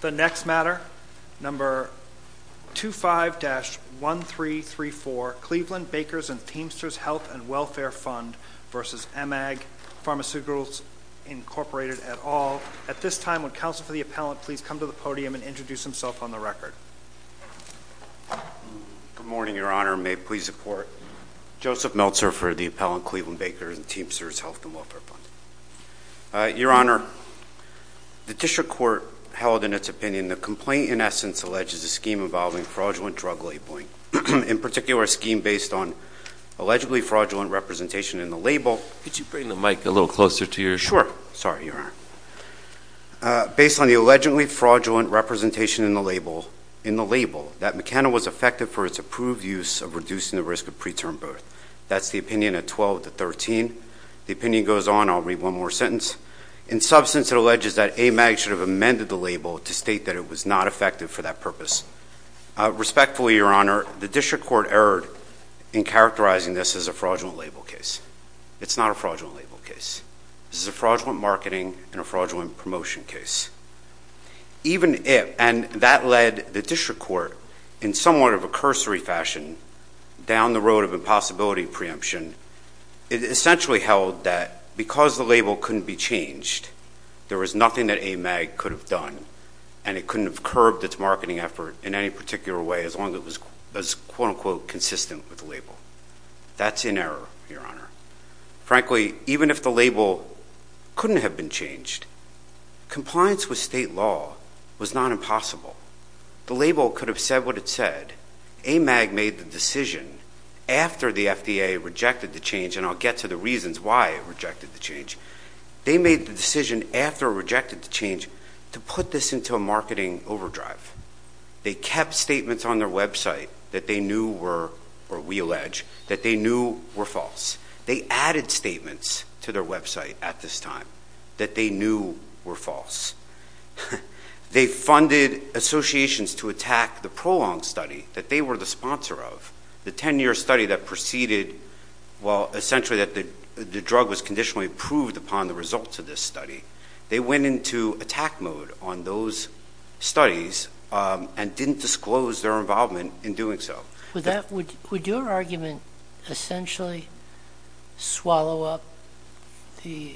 The next matter, No. 25-1334, Cleveland Bakers & Teamsters Health & Welfare Fund v. Amag Pharmaceuticals, Inc., et al. At this time, would counsel for the appellant please come to the podium and introduce himself on the record? Good morning, Your Honor. May it please the Court? Joseph Meltzer for the appellant, Cleveland Bakers & Teamsters Health & Welfare Fund. Your Honor, the district court held in its opinion the complaint in essence alleges a scheme involving fraudulent drug labeling. In particular, a scheme based on allegedly fraudulent representation in the label. Could you bring the mic a little closer to your... Sure. Sorry, Your Honor. Based on the allegedly fraudulent representation in the label, that Meccano was effective for its approved use of reducing the risk of preterm birth. That's the opinion at 12-13. The opinion goes on. I'll read one more sentence. In substance, it alleges that Amag should have amended the label to state that it was not effective for that purpose. Respectfully, Your Honor, the district court erred in characterizing this as a fraudulent label case. It's not a fraudulent label case. This is a fraudulent marketing and a fraudulent promotion case. Even if... and that led the district court in somewhat of a cursory fashion down the road of impossibility preemption. It essentially held that because the label couldn't be changed, there was nothing that Amag could have done. And it couldn't have curved its marketing effort in any particular way as long as it was, quote-unquote, consistent with the label. That's in error, Your Honor. Frankly, even if the label couldn't have been changed, compliance with state law was not impossible. The label could have said what it said. Amag made the decision after the FDA rejected the change, and I'll get to the reasons why it rejected the change. They made the decision after it rejected the change to put this into a marketing overdrive. They kept statements on their website that they knew were, or we allege, that they knew were false. They added statements to their website at this time that they knew were false. They funded associations to attack the prolonged study that they were the sponsor of, the 10-year study that preceded, well, essentially that the drug was conditionally approved upon the results of this study. They went into attack mode on those studies and didn't disclose their involvement in doing so. Would your argument essentially swallow up the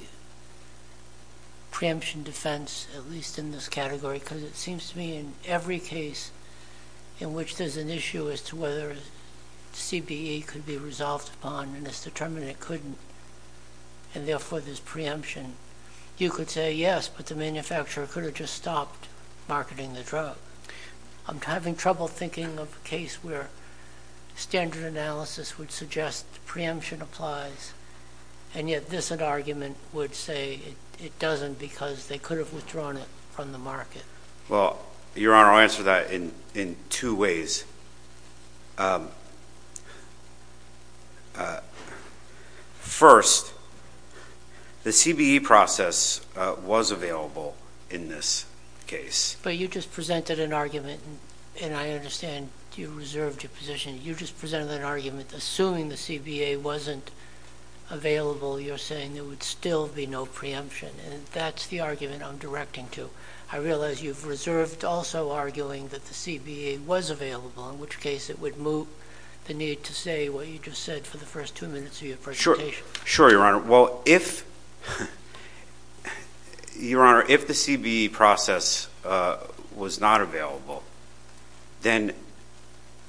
preemption defense, at least in this category? Because it seems to me in every case in which there's an issue as to whether CBE could be resolved upon, and it's determined it couldn't, and therefore there's preemption, you could say yes, but the manufacturer could have just stopped marketing the drug. I'm having trouble thinking of a case where standard analysis would suggest preemption applies, and yet this argument would say it doesn't because they could have withdrawn it from the market. Well, Your Honor, I'll answer that in two ways. First, the CBE process was available in this case. But you just presented an argument, and I understand you reserved your position. You just presented an argument assuming the CBA wasn't available. You're saying there would still be no preemption, and that's the argument I'm directing to. I realize you've reserved also arguing that the CBA was available, in which case it would moot the need to say what you just said for the first two minutes of your presentation. Sure, Your Honor. Well, Your Honor, if the CBE process was not available, then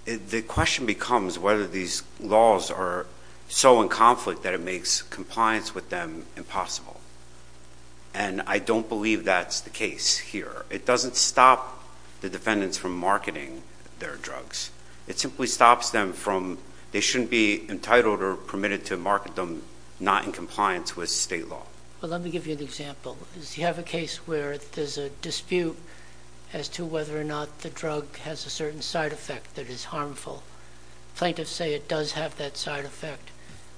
the question becomes whether these laws are so in conflict that it makes compliance with them impossible. And I don't believe that's the case here. It doesn't stop the defendants from marketing their drugs. It simply stops them from they shouldn't be entitled or permitted to market them not in compliance with state law. Well, let me give you an example. You have a case where there's a dispute as to whether or not the drug has a certain side effect that is harmful. Plaintiffs say it does have that side effect,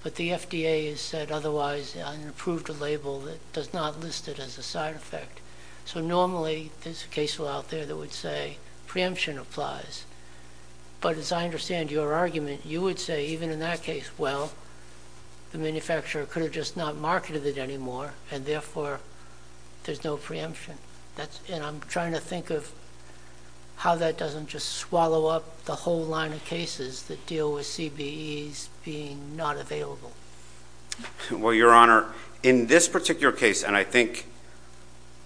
but the FDA has said otherwise and approved a label that does not list it as a side effect. So normally there's a case out there that would say preemption applies. But as I understand your argument, you would say even in that case, well, the manufacturer could have just not marketed it anymore, and therefore there's no preemption. And I'm trying to think of how that doesn't just swallow up the whole line of cases that deal with CBEs being not available. Well, Your Honor, in this particular case, and I think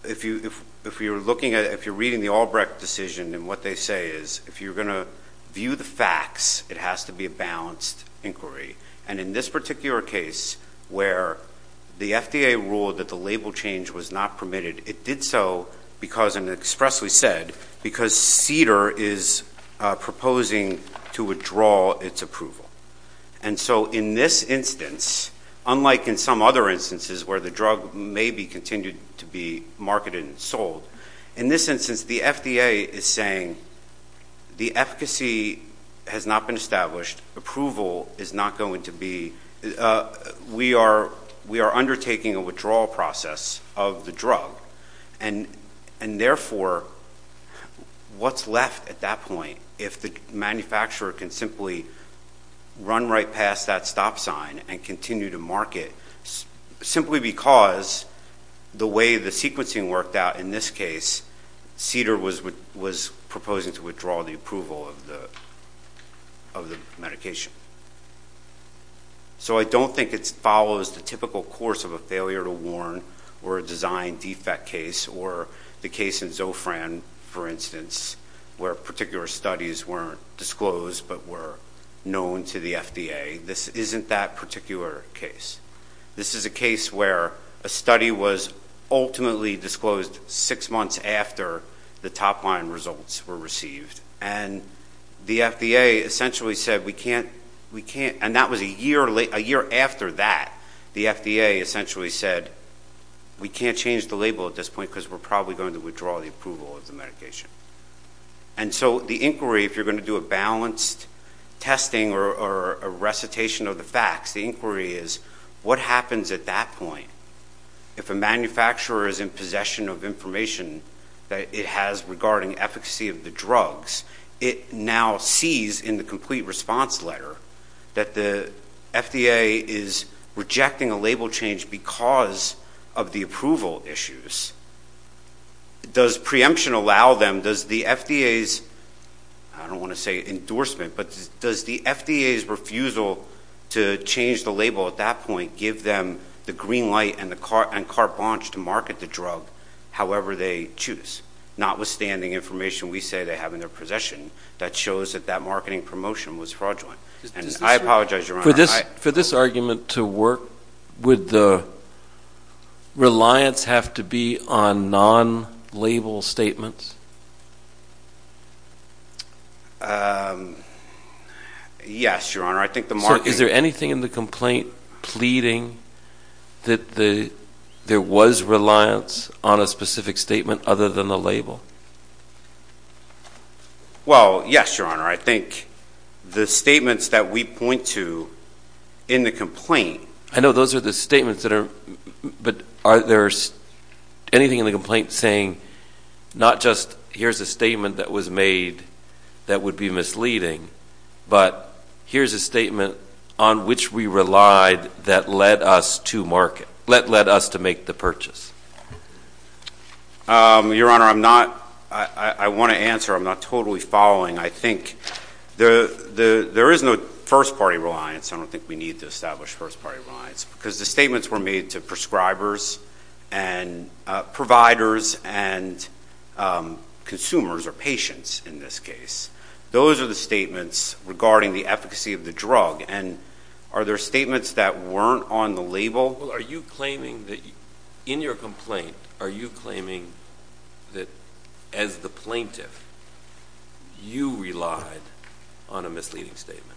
if you're reading the Albrecht decision and what they say is if you're going to view the facts, it has to be a balanced inquiry. And in this particular case where the FDA ruled that the label change was not permitted, it did so because, and expressly said, because CDER is proposing to withdraw its approval. And so in this instance, unlike in some other instances where the drug may be continued to be marketed and sold, in this instance the FDA is saying the efficacy has not been established. Approval is not going to be. We are undertaking a withdrawal process of the drug, and therefore what's left at that point if the manufacturer can simply run right past that stop sign and continue to market simply because the way the sequencing worked out in this case, CDER was proposing to withdraw the approval of the medication. So I don't think it follows the typical course of a failure to warn or a design defect case or the case in Zofran, for instance, where particular studies weren't disclosed but were known to the FDA. This isn't that particular case. This is a case where a study was ultimately disclosed six months after the top-line results were received, and the FDA essentially said we can't, and that was a year after that, the FDA essentially said we can't change the label at this point because we're probably going to withdraw the approval of the medication. And so the inquiry, if you're going to do a balanced testing or a recitation of the facts, the inquiry is what happens at that point if a manufacturer is in possession of information that it has regarding efficacy of the drugs, it now sees in the complete response letter that the FDA is rejecting a label change because of the approval issues. Does preemption allow them? Does the FDA's, I don't want to say endorsement, but does the FDA's refusal to change the label at that point give them the green light and carte blanche to market the drug however they choose, notwithstanding information we say they have in their possession that shows that that marketing promotion was fraudulent? I apologize, Your Honor. For this argument to work, would the reliance have to be on non-label statements? Yes, Your Honor. So is there anything in the complaint pleading that there was reliance on a specific statement other than the label? Well, yes, Your Honor. I think the statements that we point to in the complaint. I know those are the statements that are, but are there anything in the complaint saying not just here's a statement that was made that would be misleading, but here's a statement on which we relied that led us to market, that led us to make the purchase? Your Honor, I want to answer. I'm not totally following. I think there is no first-party reliance. I don't think we need to establish first-party reliance because the statements were made to prescribers and providers and consumers or patients in this case. Those are the statements regarding the efficacy of the drug, and are there statements that weren't on the label? Well, are you claiming that in your complaint, are you claiming that as the plaintiff you relied on a misleading statement?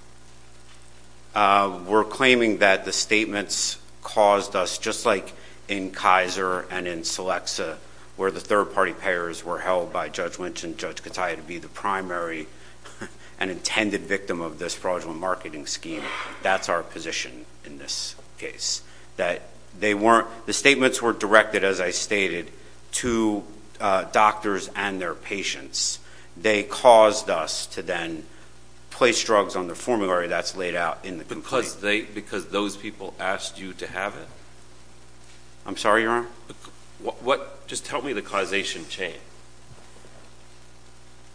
We're claiming that the statements caused us, just like in Kaiser and in Selexa, where the third-party payers were held by Judge Lynch and Judge Kataya to be the primary and intended victim of this fraudulent marketing scheme. That's our position in this case. The statements were directed, as I stated, to doctors and their patients. They caused us to then place drugs on the formulary that's laid out in the complaint. Because those people asked you to have it? I'm sorry, Your Honor? Just tell me the causation chain.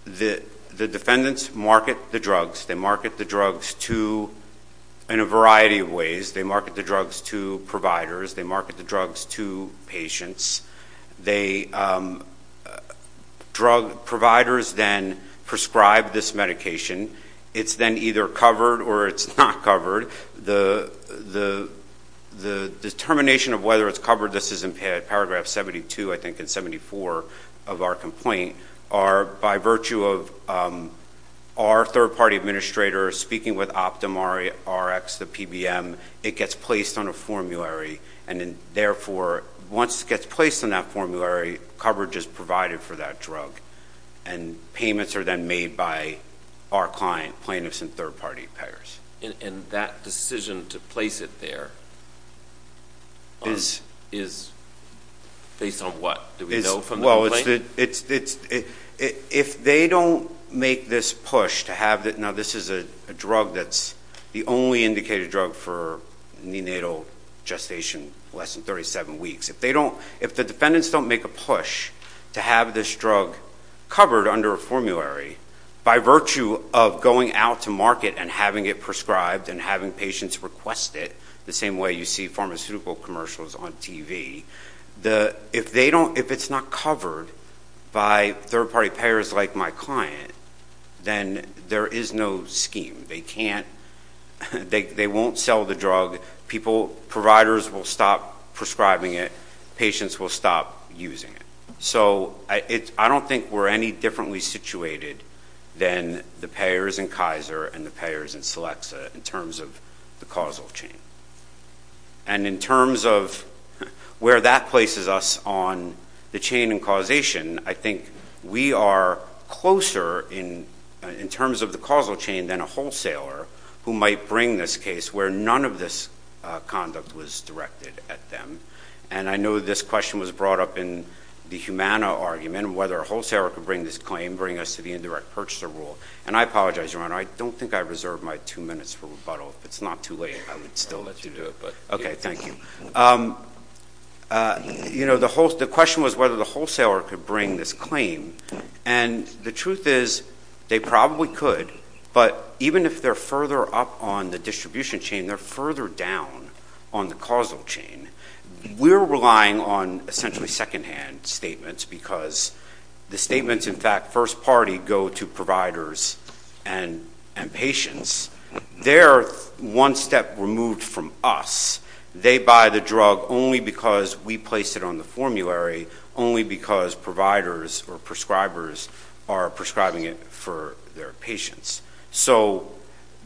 The defendants market the drugs. They market the drugs in a variety of ways. They market the drugs to providers. They market the drugs to patients. Providers then prescribe this medication. It's then either covered or it's not covered. The determination of whether it's covered, this is in paragraph 72, I think, and 74 of our complaint, are by virtue of our third-party administrators speaking with OptumRx, the PBM, it gets placed on a formulary. And therefore, once it gets placed on that formulary, coverage is provided for that drug. And payments are then made by our client, plaintiffs and third-party payers. And that decision to place it there is based on what? Do we know from the complaint? If they don't make this push to have it, now this is a drug that's the only indicated drug for neonatal gestation less than 37 weeks. If the defendants don't make a push to have this drug covered under a formulary by virtue of going out to market and having it prescribed and having patients request it, the same way you see pharmaceutical commercials on TV, if it's not covered by third-party payers like my client, then there is no scheme. They won't sell the drug. Providers will stop prescribing it. Patients will stop using it. So I don't think we're any differently situated than the payers in Kaiser and the payers in Celexa in terms of the causal chain. And in terms of where that places us on the chain and causation, I think we are closer in terms of the causal chain than a wholesaler who might bring this case where none of this conduct was directed at them. And I know this question was brought up in the Humana argument, whether a wholesaler could bring this claim, bring us to the indirect purchaser rule. And I apologize, Your Honor, I don't think I reserved my two minutes for rebuttal. If it's not too late, I would still let you do it. Okay, thank you. You know, the question was whether the wholesaler could bring this claim. And the truth is they probably could, but even if they're further up on the distribution chain, they're further down on the causal chain. We're relying on essentially secondhand statements because the statements, in fact, first party go to providers and patients. They're one step removed from us. They buy the drug only because we placed it on the formulary, only because providers or prescribers are prescribing it for their patients. So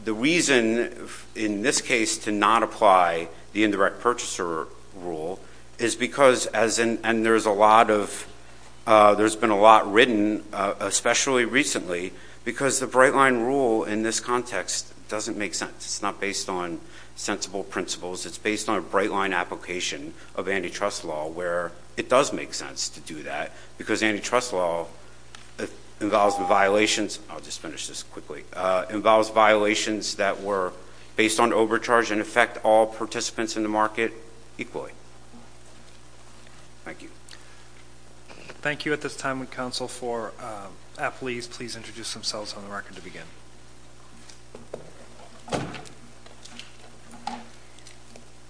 the reason in this case to not apply the indirect purchaser rule is because, and there's been a lot written, especially recently, because the bright line rule in this context doesn't make sense. It's not based on sensible principles. It's based on a bright line application of antitrust law where it does make sense to do that because antitrust law involves violations, I'll just finish this quickly, involves violations that were based on overcharge and affect all participants in the market equally. Thank you. Thank you. At this time, would counsel for appellees please introduce themselves on the record to begin?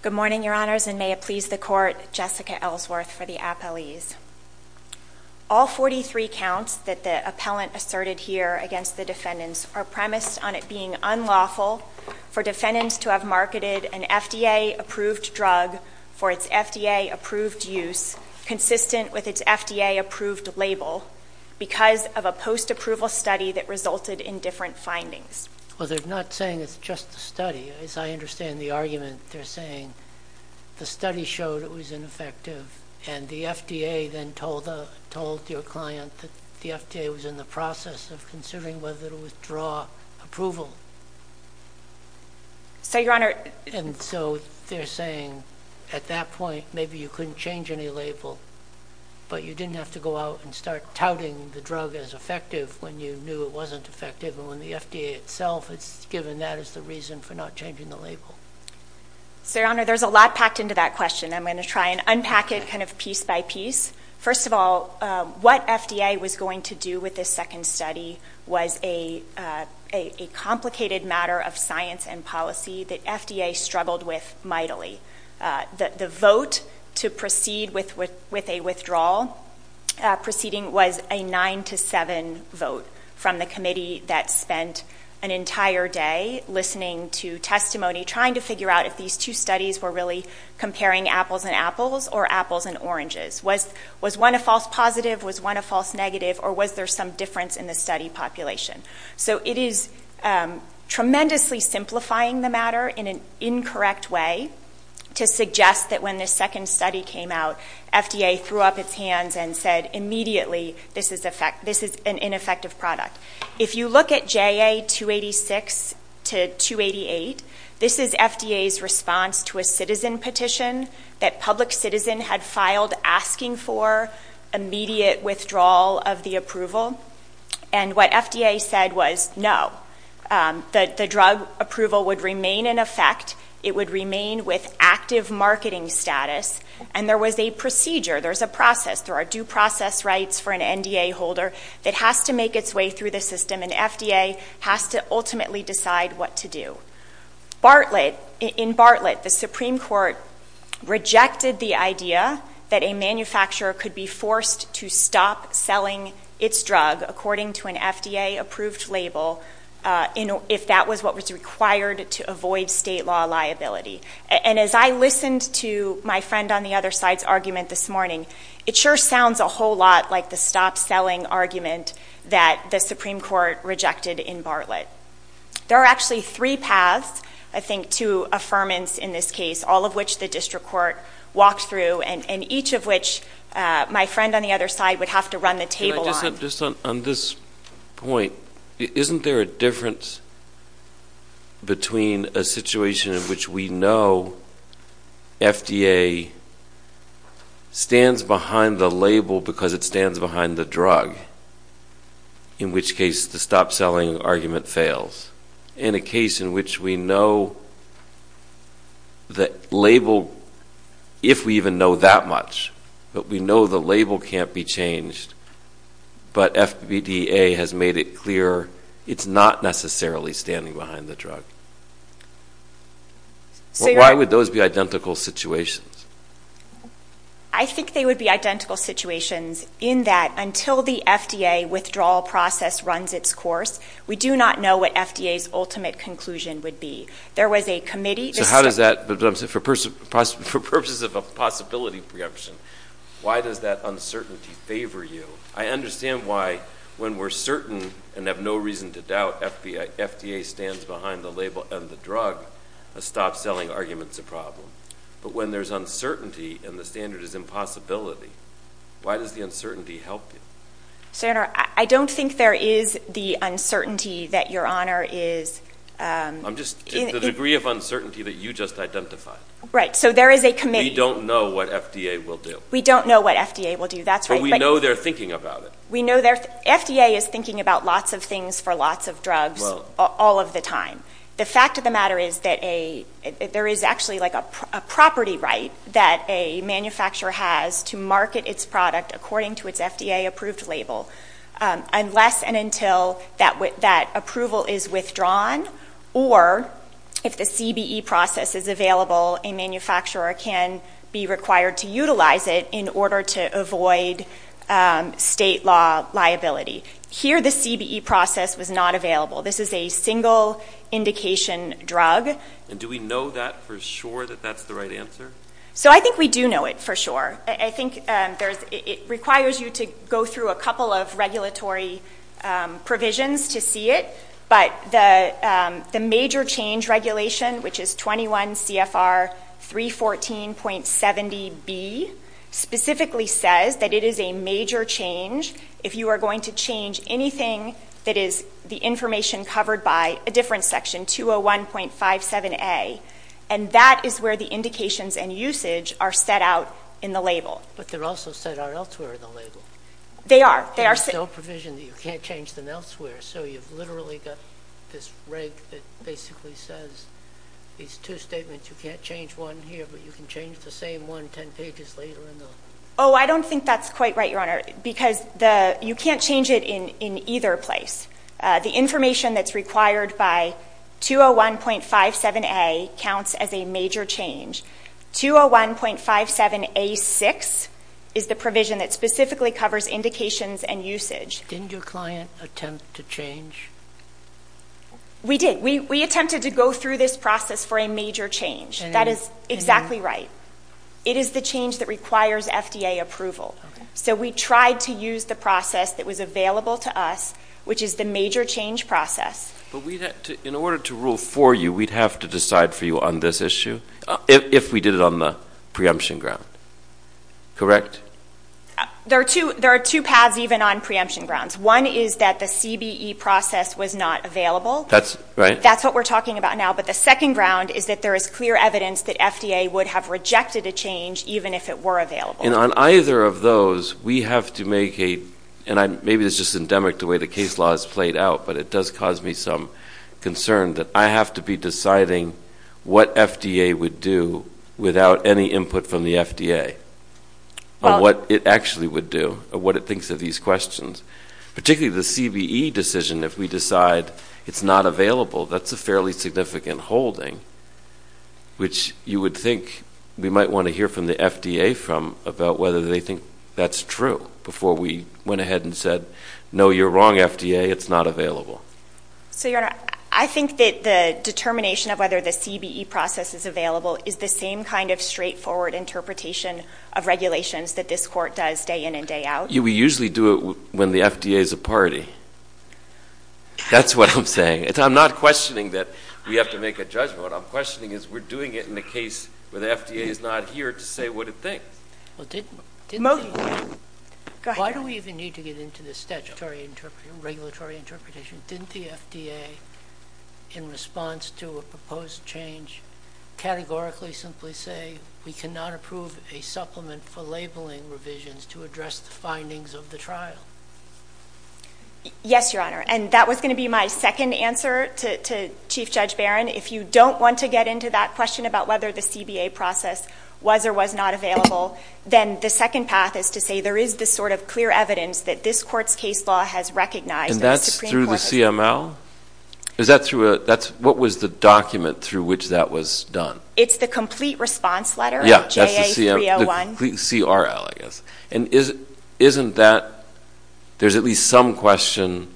Good morning, Your Honors, and may it please the Court, Jessica Ellsworth for the appellees. All 43 counts that the appellant asserted here against the defendants are premised on it being unlawful for defendants to have marketed an FDA-approved drug for its FDA-approved use, consistent with its FDA-approved label, because of a post-approval study that resulted in different findings. Well, they're not saying it's just a study. As I understand the argument, they're saying the study showed it was ineffective and the FDA then told your client that the FDA was in the process of considering whether to withdraw approval. So, Your Honor – And so they're saying at that point maybe you couldn't change any label, but you didn't have to go out and start touting the drug as effective when you knew it wasn't effective and when the FDA itself has given that as the reason for not changing the label. So, Your Honor, there's a lot packed into that question. I'm going to try and unpack it kind of piece by piece. First of all, what FDA was going to do with this second study was a complicated matter of science and policy that FDA struggled with mightily. The vote to proceed with a withdrawal proceeding was a 9-7 vote from the committee that spent an entire day listening to testimony, trying to figure out if these two studies were really comparing apples and apples or apples and oranges. Was one a false positive? Was one a false negative? Or was there some difference in the study population? So it is tremendously simplifying the matter in an incorrect way to suggest that when this second study came out, FDA threw up its hands and said immediately this is an ineffective product. If you look at JA-286 to 288, this is FDA's response to a citizen petition that public citizen had filed asking for immediate withdrawal of the approval. And what FDA said was no. The drug approval would remain in effect. It would remain with active marketing status. And there was a procedure, there's a process, there are due process rights for an NDA holder that has to make its way through the system and FDA has to ultimately decide what to do. In Bartlett, the Supreme Court rejected the idea that a manufacturer could be forced to stop selling its drug according to an FDA-approved label if that was what was required to avoid state law liability. And as I listened to my friend on the other side's argument this morning, it sure sounds a whole lot like the stop-selling argument that the Supreme Court rejected in Bartlett. There are actually three paths, I think, to affirmance in this case, all of which the district court walked through and each of which my friend on the other side would have to run the table on. Just on this point, isn't there a difference between a situation in which we know FDA stands behind the label because it stands behind the drug, in which case the stop-selling argument fails, and a case in which we know the label, if we even know that much, but we know the label can't be changed, but FDA has made it clear it's not necessarily standing behind the drug? Why would those be identical situations? I think they would be identical situations in that until the FDA withdrawal process runs its course, we do not know what FDA's ultimate conclusion would be. There was a committee. So how does that, for purposes of a possibility preemption, why does that uncertainty favor you? I understand why when we're certain and have no reason to doubt FDA stands behind the label and the drug, a stop-selling argument's a problem. But when there's uncertainty and the standard is impossibility, why does the uncertainty help you? Senator, I don't think there is the uncertainty that Your Honor is in. The degree of uncertainty that you just identified. Right, so there is a committee. We don't know what FDA will do. We don't know what FDA will do, that's right. But we know they're thinking about it. FDA is thinking about lots of things for lots of drugs all of the time. The fact of the matter is that there is actually a property right that a manufacturer has to market its product according to its FDA-approved label unless and until that approval is withdrawn or if the CBE process is available, a manufacturer can be required to utilize it in order to avoid state law liability. Here the CBE process was not available. This is a single indication drug. And do we know that for sure, that that's the right answer? So I think we do know it for sure. I think it requires you to go through a couple of regulatory provisions to see it. But the major change regulation, which is 21 CFR 314.70B, specifically says that it is a major change if you are going to change anything that is the information covered by a different section, 201.57A. And that is where the indications and usage are set out in the label. But they're also set out elsewhere in the label. They are. There's no provision that you can't change them elsewhere. So you've literally got this reg that basically says these two statements, you can't change one here but you can change the same one 10 pages later in the law. Oh, I don't think that's quite right, Your Honor, because you can't change it in either place. The information that's required by 201.57A counts as a major change. 201.57A6 is the provision that specifically covers indications and usage. Didn't your client attempt to change? We did. We attempted to go through this process for a major change. That is exactly right. It is the change that requires FDA approval. So we tried to use the process that was available to us, which is the major change process. But in order to rule for you, we'd have to decide for you on this issue if we did it on the preemption ground. Correct? There are two paths even on preemption grounds. One is that the CBE process was not available. That's right. That's what we're talking about now. But the second ground is that there is clear evidence that FDA would have rejected a change even if it were available. And on either of those, we have to make a ‑‑ and maybe this is just endemic to the way the case law is played out, but it does cause me some concern that I have to be deciding what FDA would do without any input from the FDA on what it actually would do or what it thinks of these questions. Particularly the CBE decision, if we decide it's not available, that's a fairly significant holding, which you would think we might want to hear from the FDA about whether they think that's true before we went ahead and said, no, you're wrong, FDA, it's not available. So, Your Honor, I think that the determination of whether the CBE process is available is the same kind of straightforward interpretation of regulations that this court does day in and day out. We usually do it when the FDA is a party. That's what I'm saying. I'm not questioning that we have to make a judgment. What I'm questioning is we're doing it in a case where the FDA is not here to say what it thinks. Why do we even need to get into this statutory interpretation, regulatory interpretation? Didn't the FDA, in response to a proposed change, categorically simply say, we cannot approve a supplement for labeling revisions to address the findings of the trial? Yes, Your Honor, and that was going to be my second answer to Chief Judge Barron. If you don't want to get into that question about whether the CBA process was or was not available, then the second path is to say there is this sort of clear evidence that this court's case law has recognized. And that's through the CML? What was the document through which that was done? It's the complete response letter, JA301. The complete CRL, I guess. And isn't that there's at least some question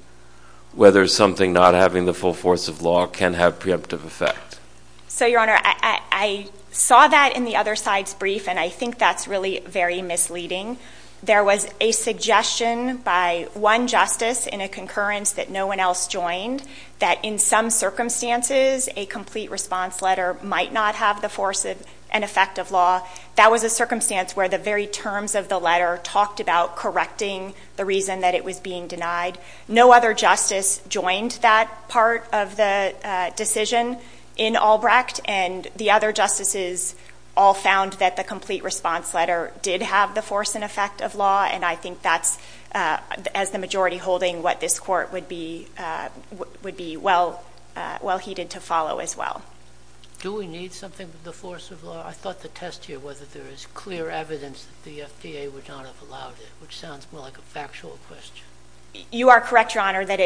whether something not having the full force of law can have preemptive effect? So, Your Honor, I saw that in the other side's brief, and I think that's really very misleading. There was a suggestion by one justice in a concurrence that no one else joined that, in some circumstances, a complete response letter might not have the force and effect of law. That was a circumstance where the very terms of the letter talked about correcting the reason that it was being denied. No other justice joined that part of the decision in Albrecht, and the other justices all found that the complete response letter did have the force and effect of law, and I think that's, as the majority holding, what this court would be well-heeded to follow as well. Do we need something with the force of law? I thought the test here was that there is clear evidence that the FDA would not have allowed it, which sounds more like a factual question. You are correct, Your Honor, that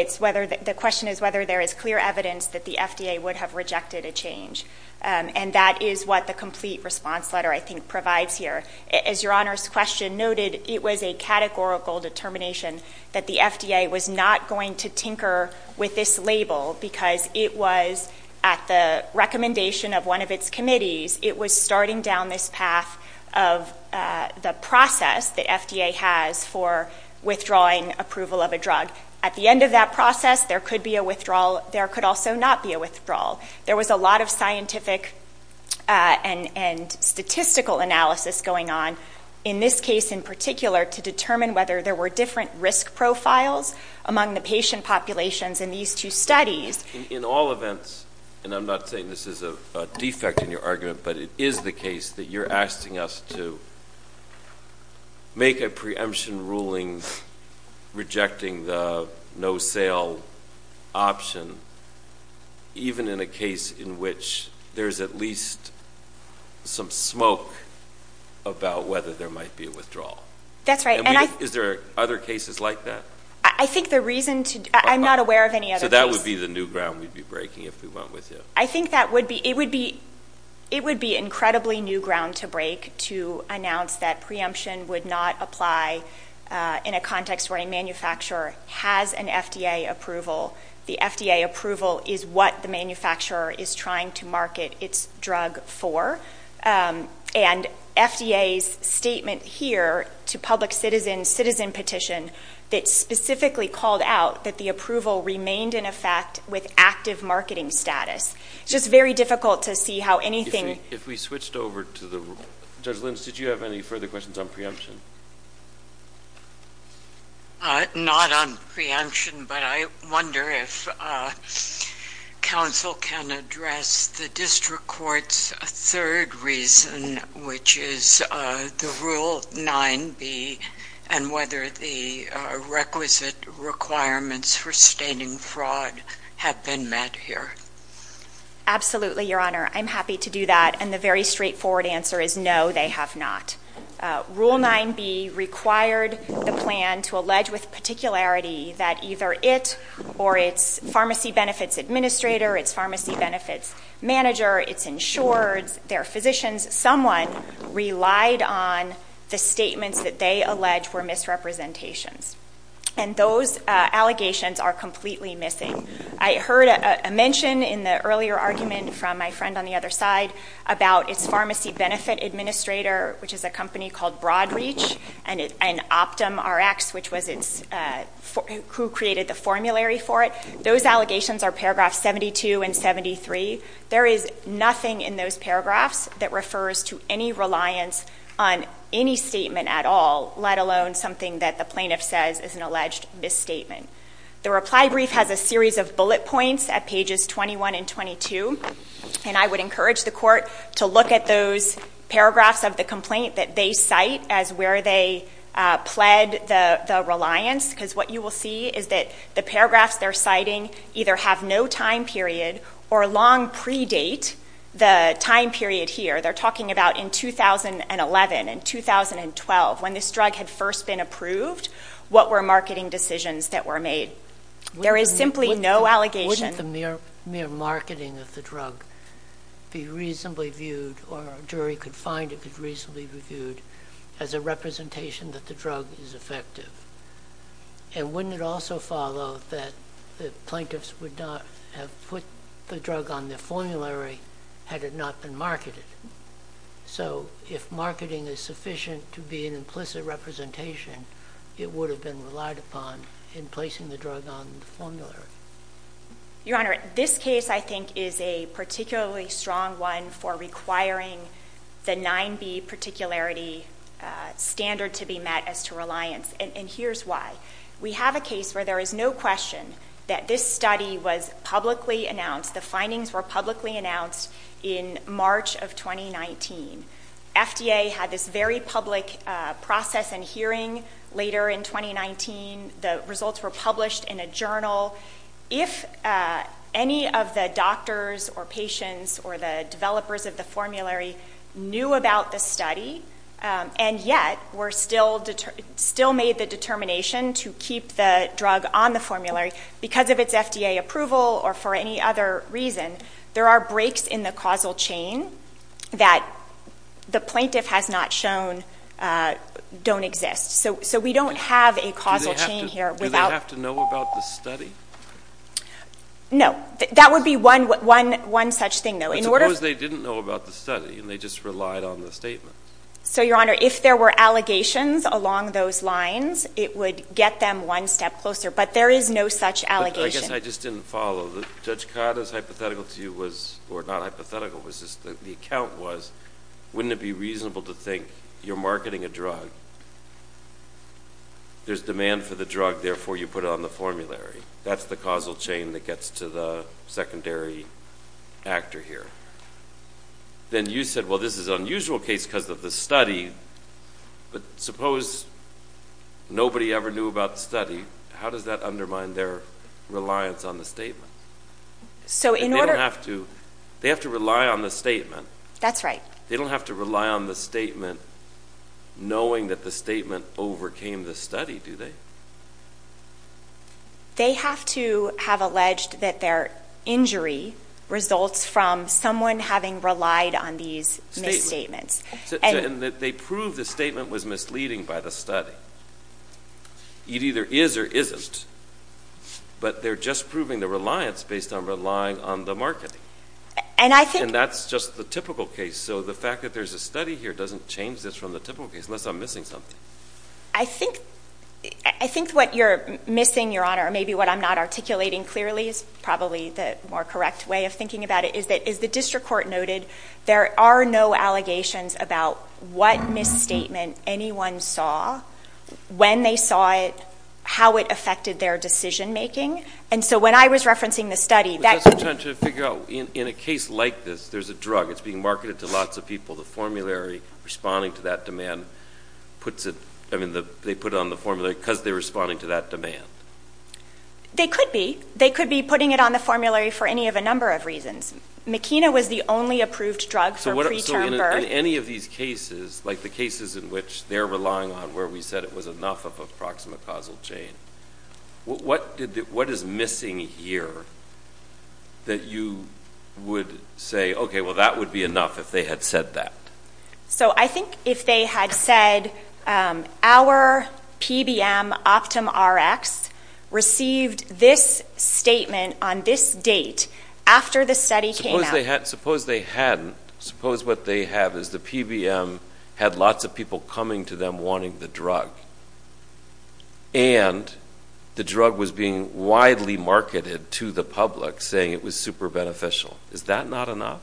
the question is whether there is clear evidence that the FDA would have rejected a change, and that is what the complete response letter, I think, provides here. As Your Honor's question noted, it was a categorical determination that the FDA was not going to tinker with this label because it was, at the recommendation of one of its committees, it was starting down this path of the process that FDA has for withdrawing approval of a drug. At the end of that process, there could be a withdrawal. There could also not be a withdrawal. There was a lot of scientific and statistical analysis going on, in this case in particular, to determine whether there were different risk profiles among the patient populations in these two studies. In all events, and I'm not saying this is a defect in your argument, but it is the case that you're asking us to make a preemption ruling rejecting the no-sale option, even in a case in which there is at least some smoke about whether there might be a withdrawal. That's right. Is there other cases like that? I'm not aware of any other cases. So that would be the new ground we'd be breaking if we went with you. I think it would be incredibly new ground to break to announce that preemption would not apply in a context where a manufacturer has an FDA approval. The FDA approval is what the manufacturer is trying to market its drug for. And FDA's statement here to public citizen, citizen petition, that specifically called out that the approval remained in effect with active marketing status. It's just very difficult to see how anything – If we switched over to the – Judge Linz, did you have any further questions on preemption? Not on preemption, but I wonder if counsel can address the district court's third reason, which is the Rule 9b and whether the requisite requirements for stating fraud have been met here. Absolutely, Your Honor. I'm happy to do that. And the very straightforward answer is no, they have not. Rule 9b required the plan to allege with particularity that either it or its pharmacy benefits administrator, its pharmacy benefits manager, its insurers, their physicians, someone relied on the statements that they allege were misrepresentations. And those allegations are completely missing. I heard a mention in the earlier argument from my friend on the other side about its pharmacy benefit administrator, which is a company called Broadreach, and OptumRx, which was its – who created the formulary for it. Those allegations are paragraphs 72 and 73. There is nothing in those paragraphs that refers to any reliance on any statement at all, let alone something that the plaintiff says is an alleged misstatement. The reply brief has a series of bullet points at pages 21 and 22, and I would encourage the court to look at those paragraphs of the complaint that they cite as where they pled the reliance, because what you will see is that the paragraphs they're citing either have no time period or long predate the time period here. They're talking about in 2011 and 2012, when this drug had first been approved, what were marketing decisions that were made. There is simply no allegation. Wouldn't the mere marketing of the drug be reasonably viewed, or a jury could find it could reasonably be viewed as a representation that the drug is effective? And wouldn't it also follow that the plaintiffs would not have put the drug on their formulary had it not been marketed? So if marketing is sufficient to be an implicit representation, it would have been relied upon in placing the drug on the formulary. Your Honor, this case, I think, is a particularly strong one for requiring the 9B particularity standard to be met as to reliance, and here's why. We have a case where there is no question that this study was publicly announced. The findings were publicly announced in March of 2019. FDA had this very public process and hearing later in 2019. The results were published in a journal. If any of the doctors or patients or the developers of the formulary knew about the study, and yet were still made the determination to keep the drug on the formulary because of its FDA approval or for any other reason, there are breaks in the causal chain that the plaintiff has not shown don't exist. So we don't have a causal chain here. Do they have to know about the study? No. That would be one such thing, though. Suppose they didn't know about the study and they just relied on the statement. So, Your Honor, if there were allegations along those lines, it would get them one step closer, but there is no such allegation. I guess I just didn't follow. Judge Codd, as hypothetical to you was, or not hypothetical, was just the account was, wouldn't it be reasonable to think you're marketing a drug, there's demand for the drug, therefore you put it on the formulary. That's the causal chain that gets to the secondary actor here. Then you said, well, this is an unusual case because of the study, but suppose nobody ever knew about the study. How does that undermine their reliance on the statement? They don't have to rely on the statement. That's right. They don't have to rely on the statement knowing that the statement overcame the study, do they? They have to have alleged that their injury results from someone having relied on these misstatements. And that they proved the statement was misleading by the study. It either is or isn't. But they're just proving their reliance based on relying on the marketing. And that's just the typical case. So the fact that there's a study here doesn't change this from the typical case, unless I'm missing something. I think what you're missing, Your Honor, or maybe what I'm not articulating clearly is probably the more correct way of thinking about it, is that as the district court noted, there are no allegations about what misstatement anyone saw, when they saw it, how it affected their decision making. And so when I was referencing the study, that... But that's what I'm trying to figure out. In a case like this, there's a drug. It's being marketed to lots of people. The formulary responding to that demand puts it, I mean, they put it on the formulary because they're responding to that demand. They could be. They could be putting it on the formulary for any of a number of reasons. Makina was the only approved drug for preterm birth. So in any of these cases, like the cases in which they're relying on where we said it was enough of a proxima causal chain, what is missing here that you would say, okay, well, that would be enough if they had said that? So I think if they had said, our PBM OptumRx received this statement on this date after the study came out. Suppose they hadn't. Suppose what they have is the PBM had lots of people coming to them wanting the drug. And the drug was being widely marketed to the public, saying it was super beneficial. Is that not enough?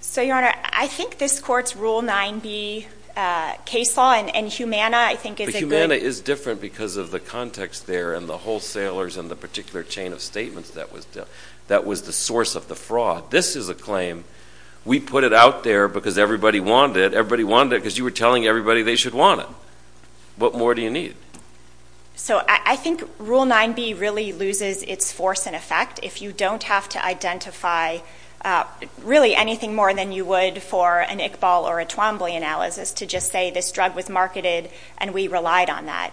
So, Your Honor, I think this Court's Rule 9B case law and Humana, I think, is a good... But Humana is different because of the context there and the wholesalers and the particular chain of statements that was the source of the fraud. This is a claim. We put it out there because everybody wanted it. Everybody wanted it because you were telling everybody they should want it. What more do you need? So I think Rule 9B really loses its force and effect if you don't have to identify, really, anything more than you would for an Iqbal or a Twombly analysis to just say this drug was marketed and we relied on that.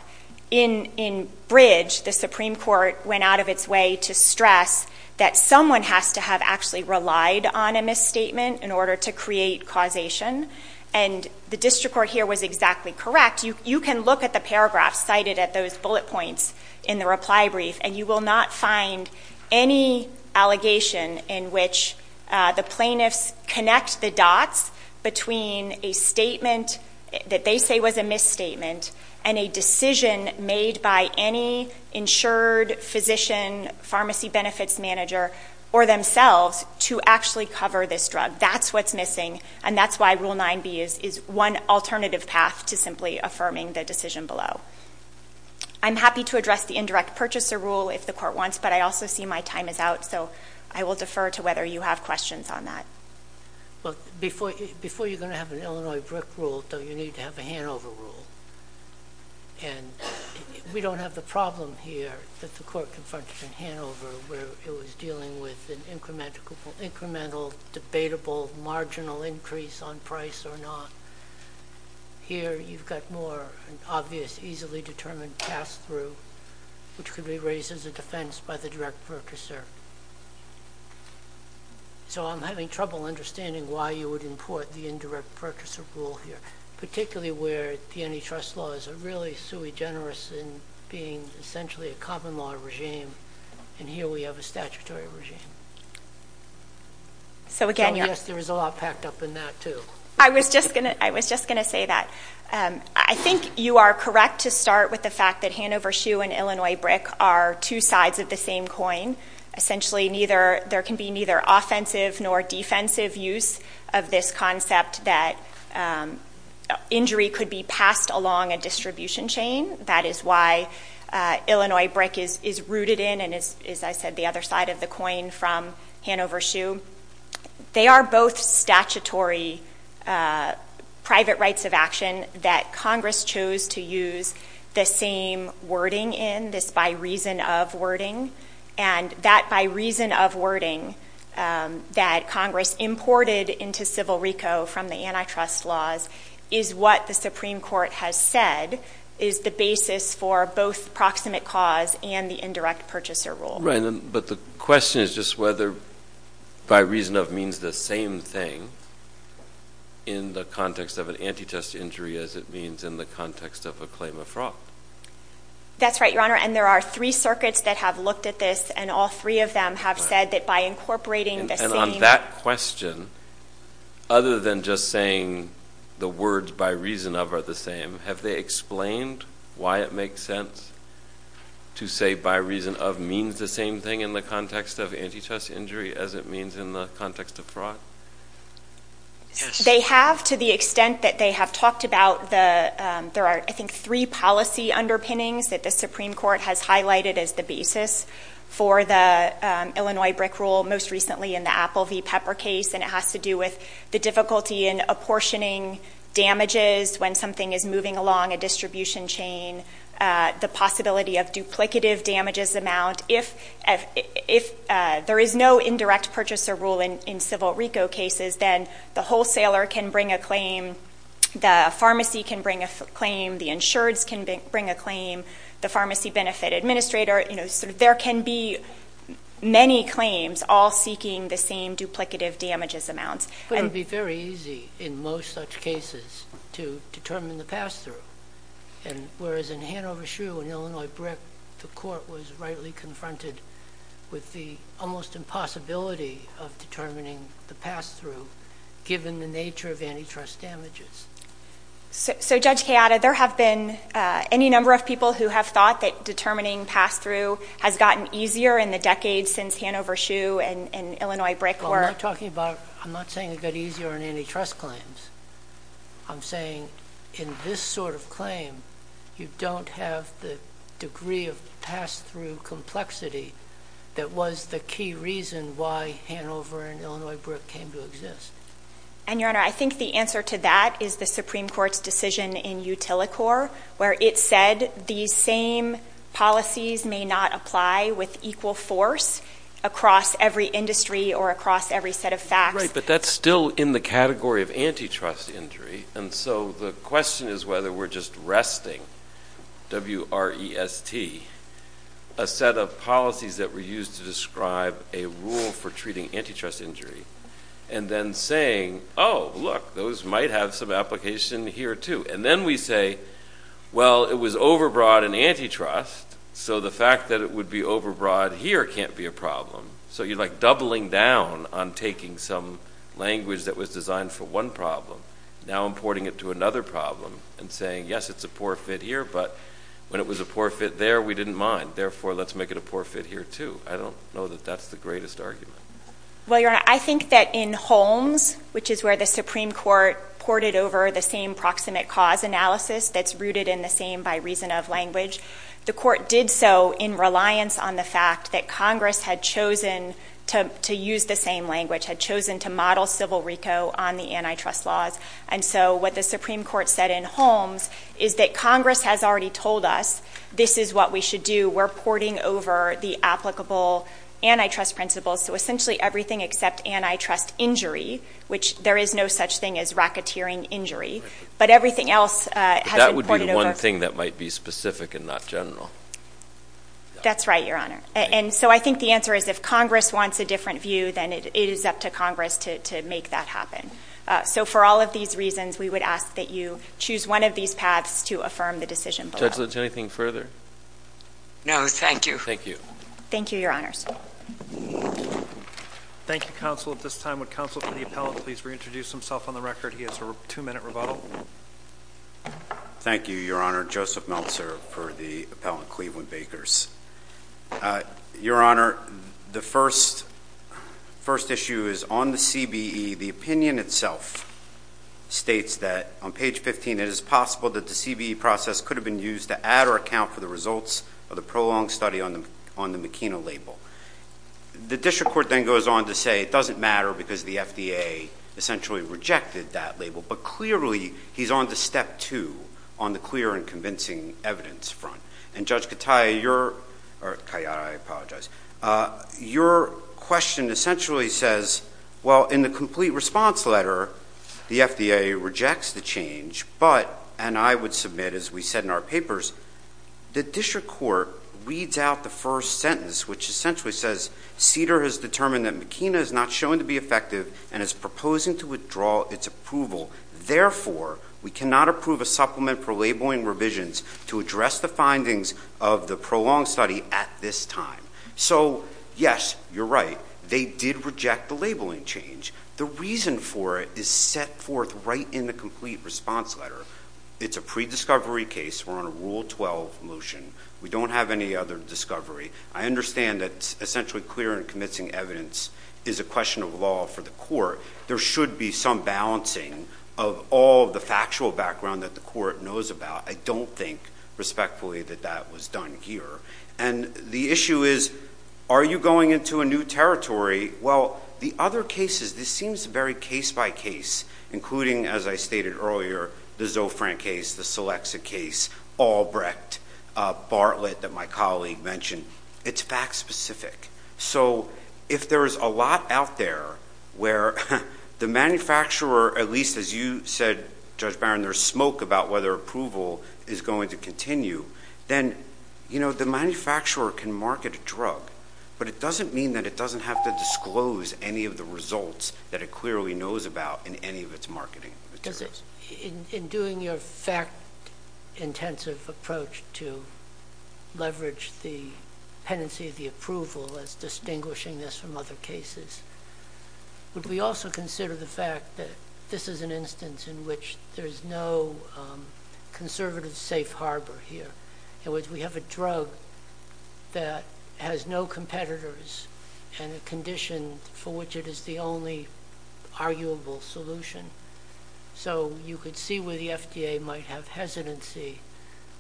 In Bridge, the Supreme Court went out of its way to stress that someone has to have actually relied on a misstatement in order to create causation. And the district court here was exactly correct. You can look at the paragraphs cited at those bullet points in the reply brief, and you will not find any allegation in which the plaintiffs connect the dots between a statement that they say was a misstatement and a decision made by any insured physician, pharmacy benefits manager, or themselves to actually cover this drug. That's what's missing. And that's why Rule 9B is one alternative path to simply affirming the decision below. I'm happy to address the indirect purchaser rule if the court wants, but I also see my time is out, so I will defer to whether you have questions on that. Well, before you're going to have an Illinois BRIC rule, don't you need to have a Hanover rule? And we don't have the problem here that the court confronted in Hanover where it was dealing with an incremental, debatable, marginal increase on price or not. Here you've got more obvious, easily determined pass-through, which could be raised as a defense by the direct purchaser. So I'm having trouble understanding why you would import the indirect purchaser rule here, particularly where the antitrust laws are really sui generis in being essentially a common law regime, and here we have a statutory regime. So, again, you're up. So, yes, there is a lot packed up in that too. I was just going to say that. I think you are correct to start with the fact that Hanover SHU and Illinois BRIC are two sides of the same coin. Essentially, there can be neither offensive nor defensive use of this concept that injury could be passed along a distribution chain. That is why Illinois BRIC is rooted in and is, as I said, the other side of the coin from Hanover SHU. They are both statutory private rights of action that Congress chose to use the same wording in, this by reason of wording, and that by reason of wording that Congress imported into civil RICO from the antitrust laws is what the Supreme Court has said is the basis for both proximate cause and the indirect purchaser rule. Right, but the question is just whether by reason of means the same thing in the context of an antitrust injury as it means in the context of a claim of fraud. That's right, Your Honor, and there are three circuits that have looked at this, and all three of them have said that by incorporating the same... That question, other than just saying the words by reason of are the same, have they explained why it makes sense to say by reason of means the same thing in the context of antitrust injury as it means in the context of fraud? Yes. They have to the extent that they have talked about the... There are, I think, three policy underpinnings that the Supreme Court has highlighted as the basis for the Illinois BRIC rule, most recently in the Apple v. Pepper case, and it has to do with the difficulty in apportioning damages when something is moving along a distribution chain, the possibility of duplicative damages amount. If there is no indirect purchaser rule in civil RICO cases, then the wholesaler can bring a claim, the pharmacy can bring a claim, the insureds can bring a claim, the pharmacy benefit administrator. There can be many claims all seeking the same duplicative damages amount. But it would be very easy in most such cases to determine the pass-through, whereas in Hanover Shoe and Illinois BRIC, the court was rightly confronted with the almost impossibility of determining the pass-through, given the nature of antitrust damages. So, Judge Kayada, there have been any number of people who have thought that determining pass-through has gotten easier in the decades since Hanover Shoe and Illinois BRIC were... Well, I'm not talking about... I'm not saying it got easier on antitrust claims. I'm saying in this sort of claim, you don't have the degree of pass-through complexity that was the key reason why Hanover and Illinois BRIC came to exist. And, Your Honor, I think the answer to that is the Supreme Court's decision in Utilicor, where it said these same policies may not apply with equal force across every industry or across every set of facts. Right, but that's still in the category of antitrust injury. And so the question is whether we're just resting, W-R-E-S-T, a set of policies that were used to describe a rule for treating antitrust injury and then saying, oh, look, those might have some application here, too. And then we say, well, it was overbroad in antitrust, so the fact that it would be overbroad here can't be a problem. So you're, like, doubling down on taking some language that was designed for one problem, now importing it to another problem and saying, yes, it's a poor fit here, but when it was a poor fit there, we didn't mind. Therefore, let's make it a poor fit here, too. I don't know that that's the greatest argument. Well, Your Honor, I think that in Holmes, which is where the Supreme Court ported over the same proximate cause analysis that's rooted in the same by reason of language, the court did so in reliance on the fact that Congress had chosen to use the same language, had chosen to model civil RICO on the antitrust laws. And so what the Supreme Court said in Holmes is that Congress has already told us this is what we should do. We're porting over the applicable antitrust principles. So essentially everything except antitrust injury, which there is no such thing as racketeering injury, but everything else has been ported over. But that would be the one thing that might be specific and not general. That's right, Your Honor. And so I think the answer is if Congress wants a different view, then it is up to Congress to make that happen. So for all of these reasons, we would ask that you choose one of these paths to affirm the decision below. Judge Litz, anything further? No, thank you. Thank you. Thank you, Your Honors. Thank you, counsel. At this time, would counsel for the appellant please reintroduce himself on the record? He has a two-minute rebuttal. Thank you, Your Honor. Joseph Meltzer for the appellant, Cleveland Bakers. Your Honor, the first issue is on the CBE. The opinion itself states that on page 15, it is possible that the CBE process could have been used to add or account for the results of the prolonged study on the McKenna label. The district court then goes on to say it doesn't matter because the FDA essentially rejected that label. But clearly he's on to step two on the clear and convincing evidence front. And, Judge Katya, your question essentially says, well, in the complete response letter, the FDA rejects the change, but, and I would submit, as we said in our papers, the district court reads out the first sentence, which essentially says, CDER has determined that McKenna is not shown to be effective and is proposing to withdraw its approval. Therefore, we cannot approve a supplement for labeling revisions to address the findings of the prolonged study at this time. So, yes, you're right. They did reject the labeling change. The reason for it is set forth right in the complete response letter. It's a prediscovery case. We're on a Rule 12 motion. We don't have any other discovery. I understand that essentially clear and convincing evidence is a question of law for the court. There should be some balancing of all the factual background that the court knows about. I don't think, respectfully, that that was done here. And the issue is, are you going into a new territory? Well, the other cases, this seems very case-by-case, including, as I stated earlier, the Zofran case, the Selexa case, Albrecht, Bartlett that my colleague mentioned. It's fact-specific. So if there is a lot out there where the manufacturer, at least as you said, Judge Barron, there's smoke about whether approval is going to continue, then, you know, the manufacturer can market a drug. But it doesn't mean that it doesn't have to disclose any of the results that it clearly knows about in any of its marketing materials. In doing your fact-intensive approach to leverage the tendency of the approval as distinguishing this from other cases, would we also consider the fact that this is an instance in which there's no conservative safe harbor here? In other words, we have a drug that has no competitors and a condition for which it is the only arguable solution. So you could see where the FDA might have hesitancy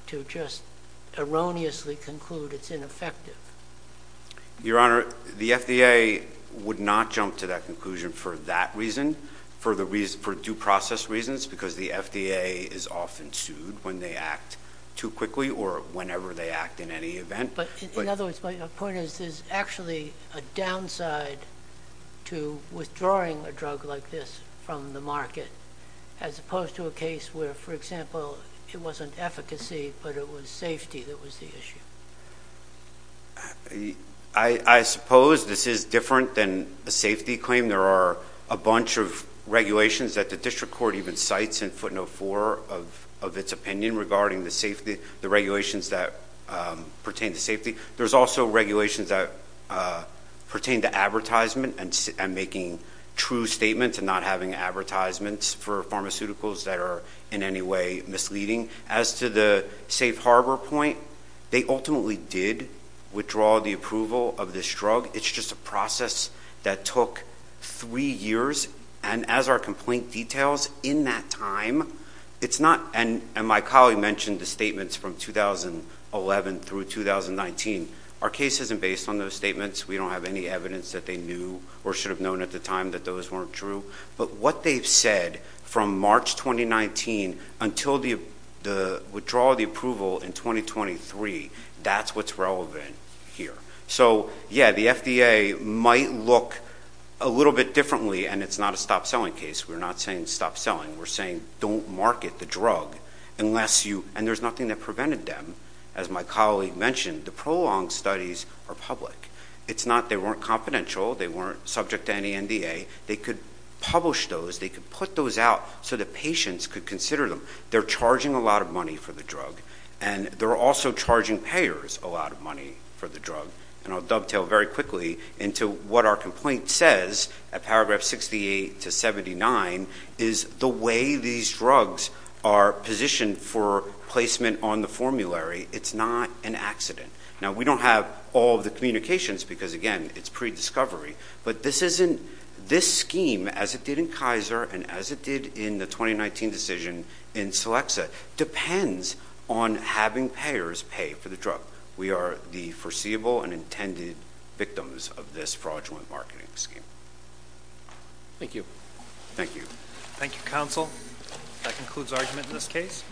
to just erroneously conclude it's ineffective. Your Honor, the FDA would not jump to that conclusion for that reason, for due process reasons, because the FDA is often sued when they act too quickly or whenever they act in any event. In other words, my point is there's actually a downside to withdrawing a drug like this from the market as opposed to a case where, for example, it wasn't efficacy but it was safety that was the issue. I suppose this is different than a safety claim. There are a bunch of regulations that the district court even cites in footnote 4 of its opinion regarding the regulations that pertain to safety. There's also regulations that pertain to advertisement and making true statements and not having advertisements for pharmaceuticals that are in any way misleading. As to the safe harbor point, they ultimately did withdraw the approval of this drug. It's just a process that took three years, and as our complaint details, in that time, it's not... And my colleague mentioned the statements from 2011 through 2019. Our case isn't based on those statements. We don't have any evidence that they knew or should have known at the time that those weren't true. But what they've said from March 2019 until the withdrawal of the approval in 2023, that's what's relevant here. So, yeah, the FDA might look a little bit differently, and it's not a stop-selling case. We're not saying stop selling. We're saying don't market the drug unless you... And there's nothing that prevented them. As my colleague mentioned, the prolonged studies are public. It's not they weren't confidential, they weren't subject to any NDA. They could publish those, they could put those out so that patients could consider them. They're charging a lot of money for the drug, and they're also charging payers a lot of money for the drug. And I'll dovetail very quickly into what our complaint says at paragraph 68 to 79, is the way these drugs are positioned for placement on the formulary, it's not an accident. Now, we don't have all the communications because, again, it's pre-discovery, but this scheme, as it did in Kaiser and as it did in the 2019 decision in Celexa, depends on having payers pay for the drug. We are the foreseeable and intended victims of this fraudulent marketing scheme. Thank you. Thank you. Thank you, counsel. That concludes argument in this case.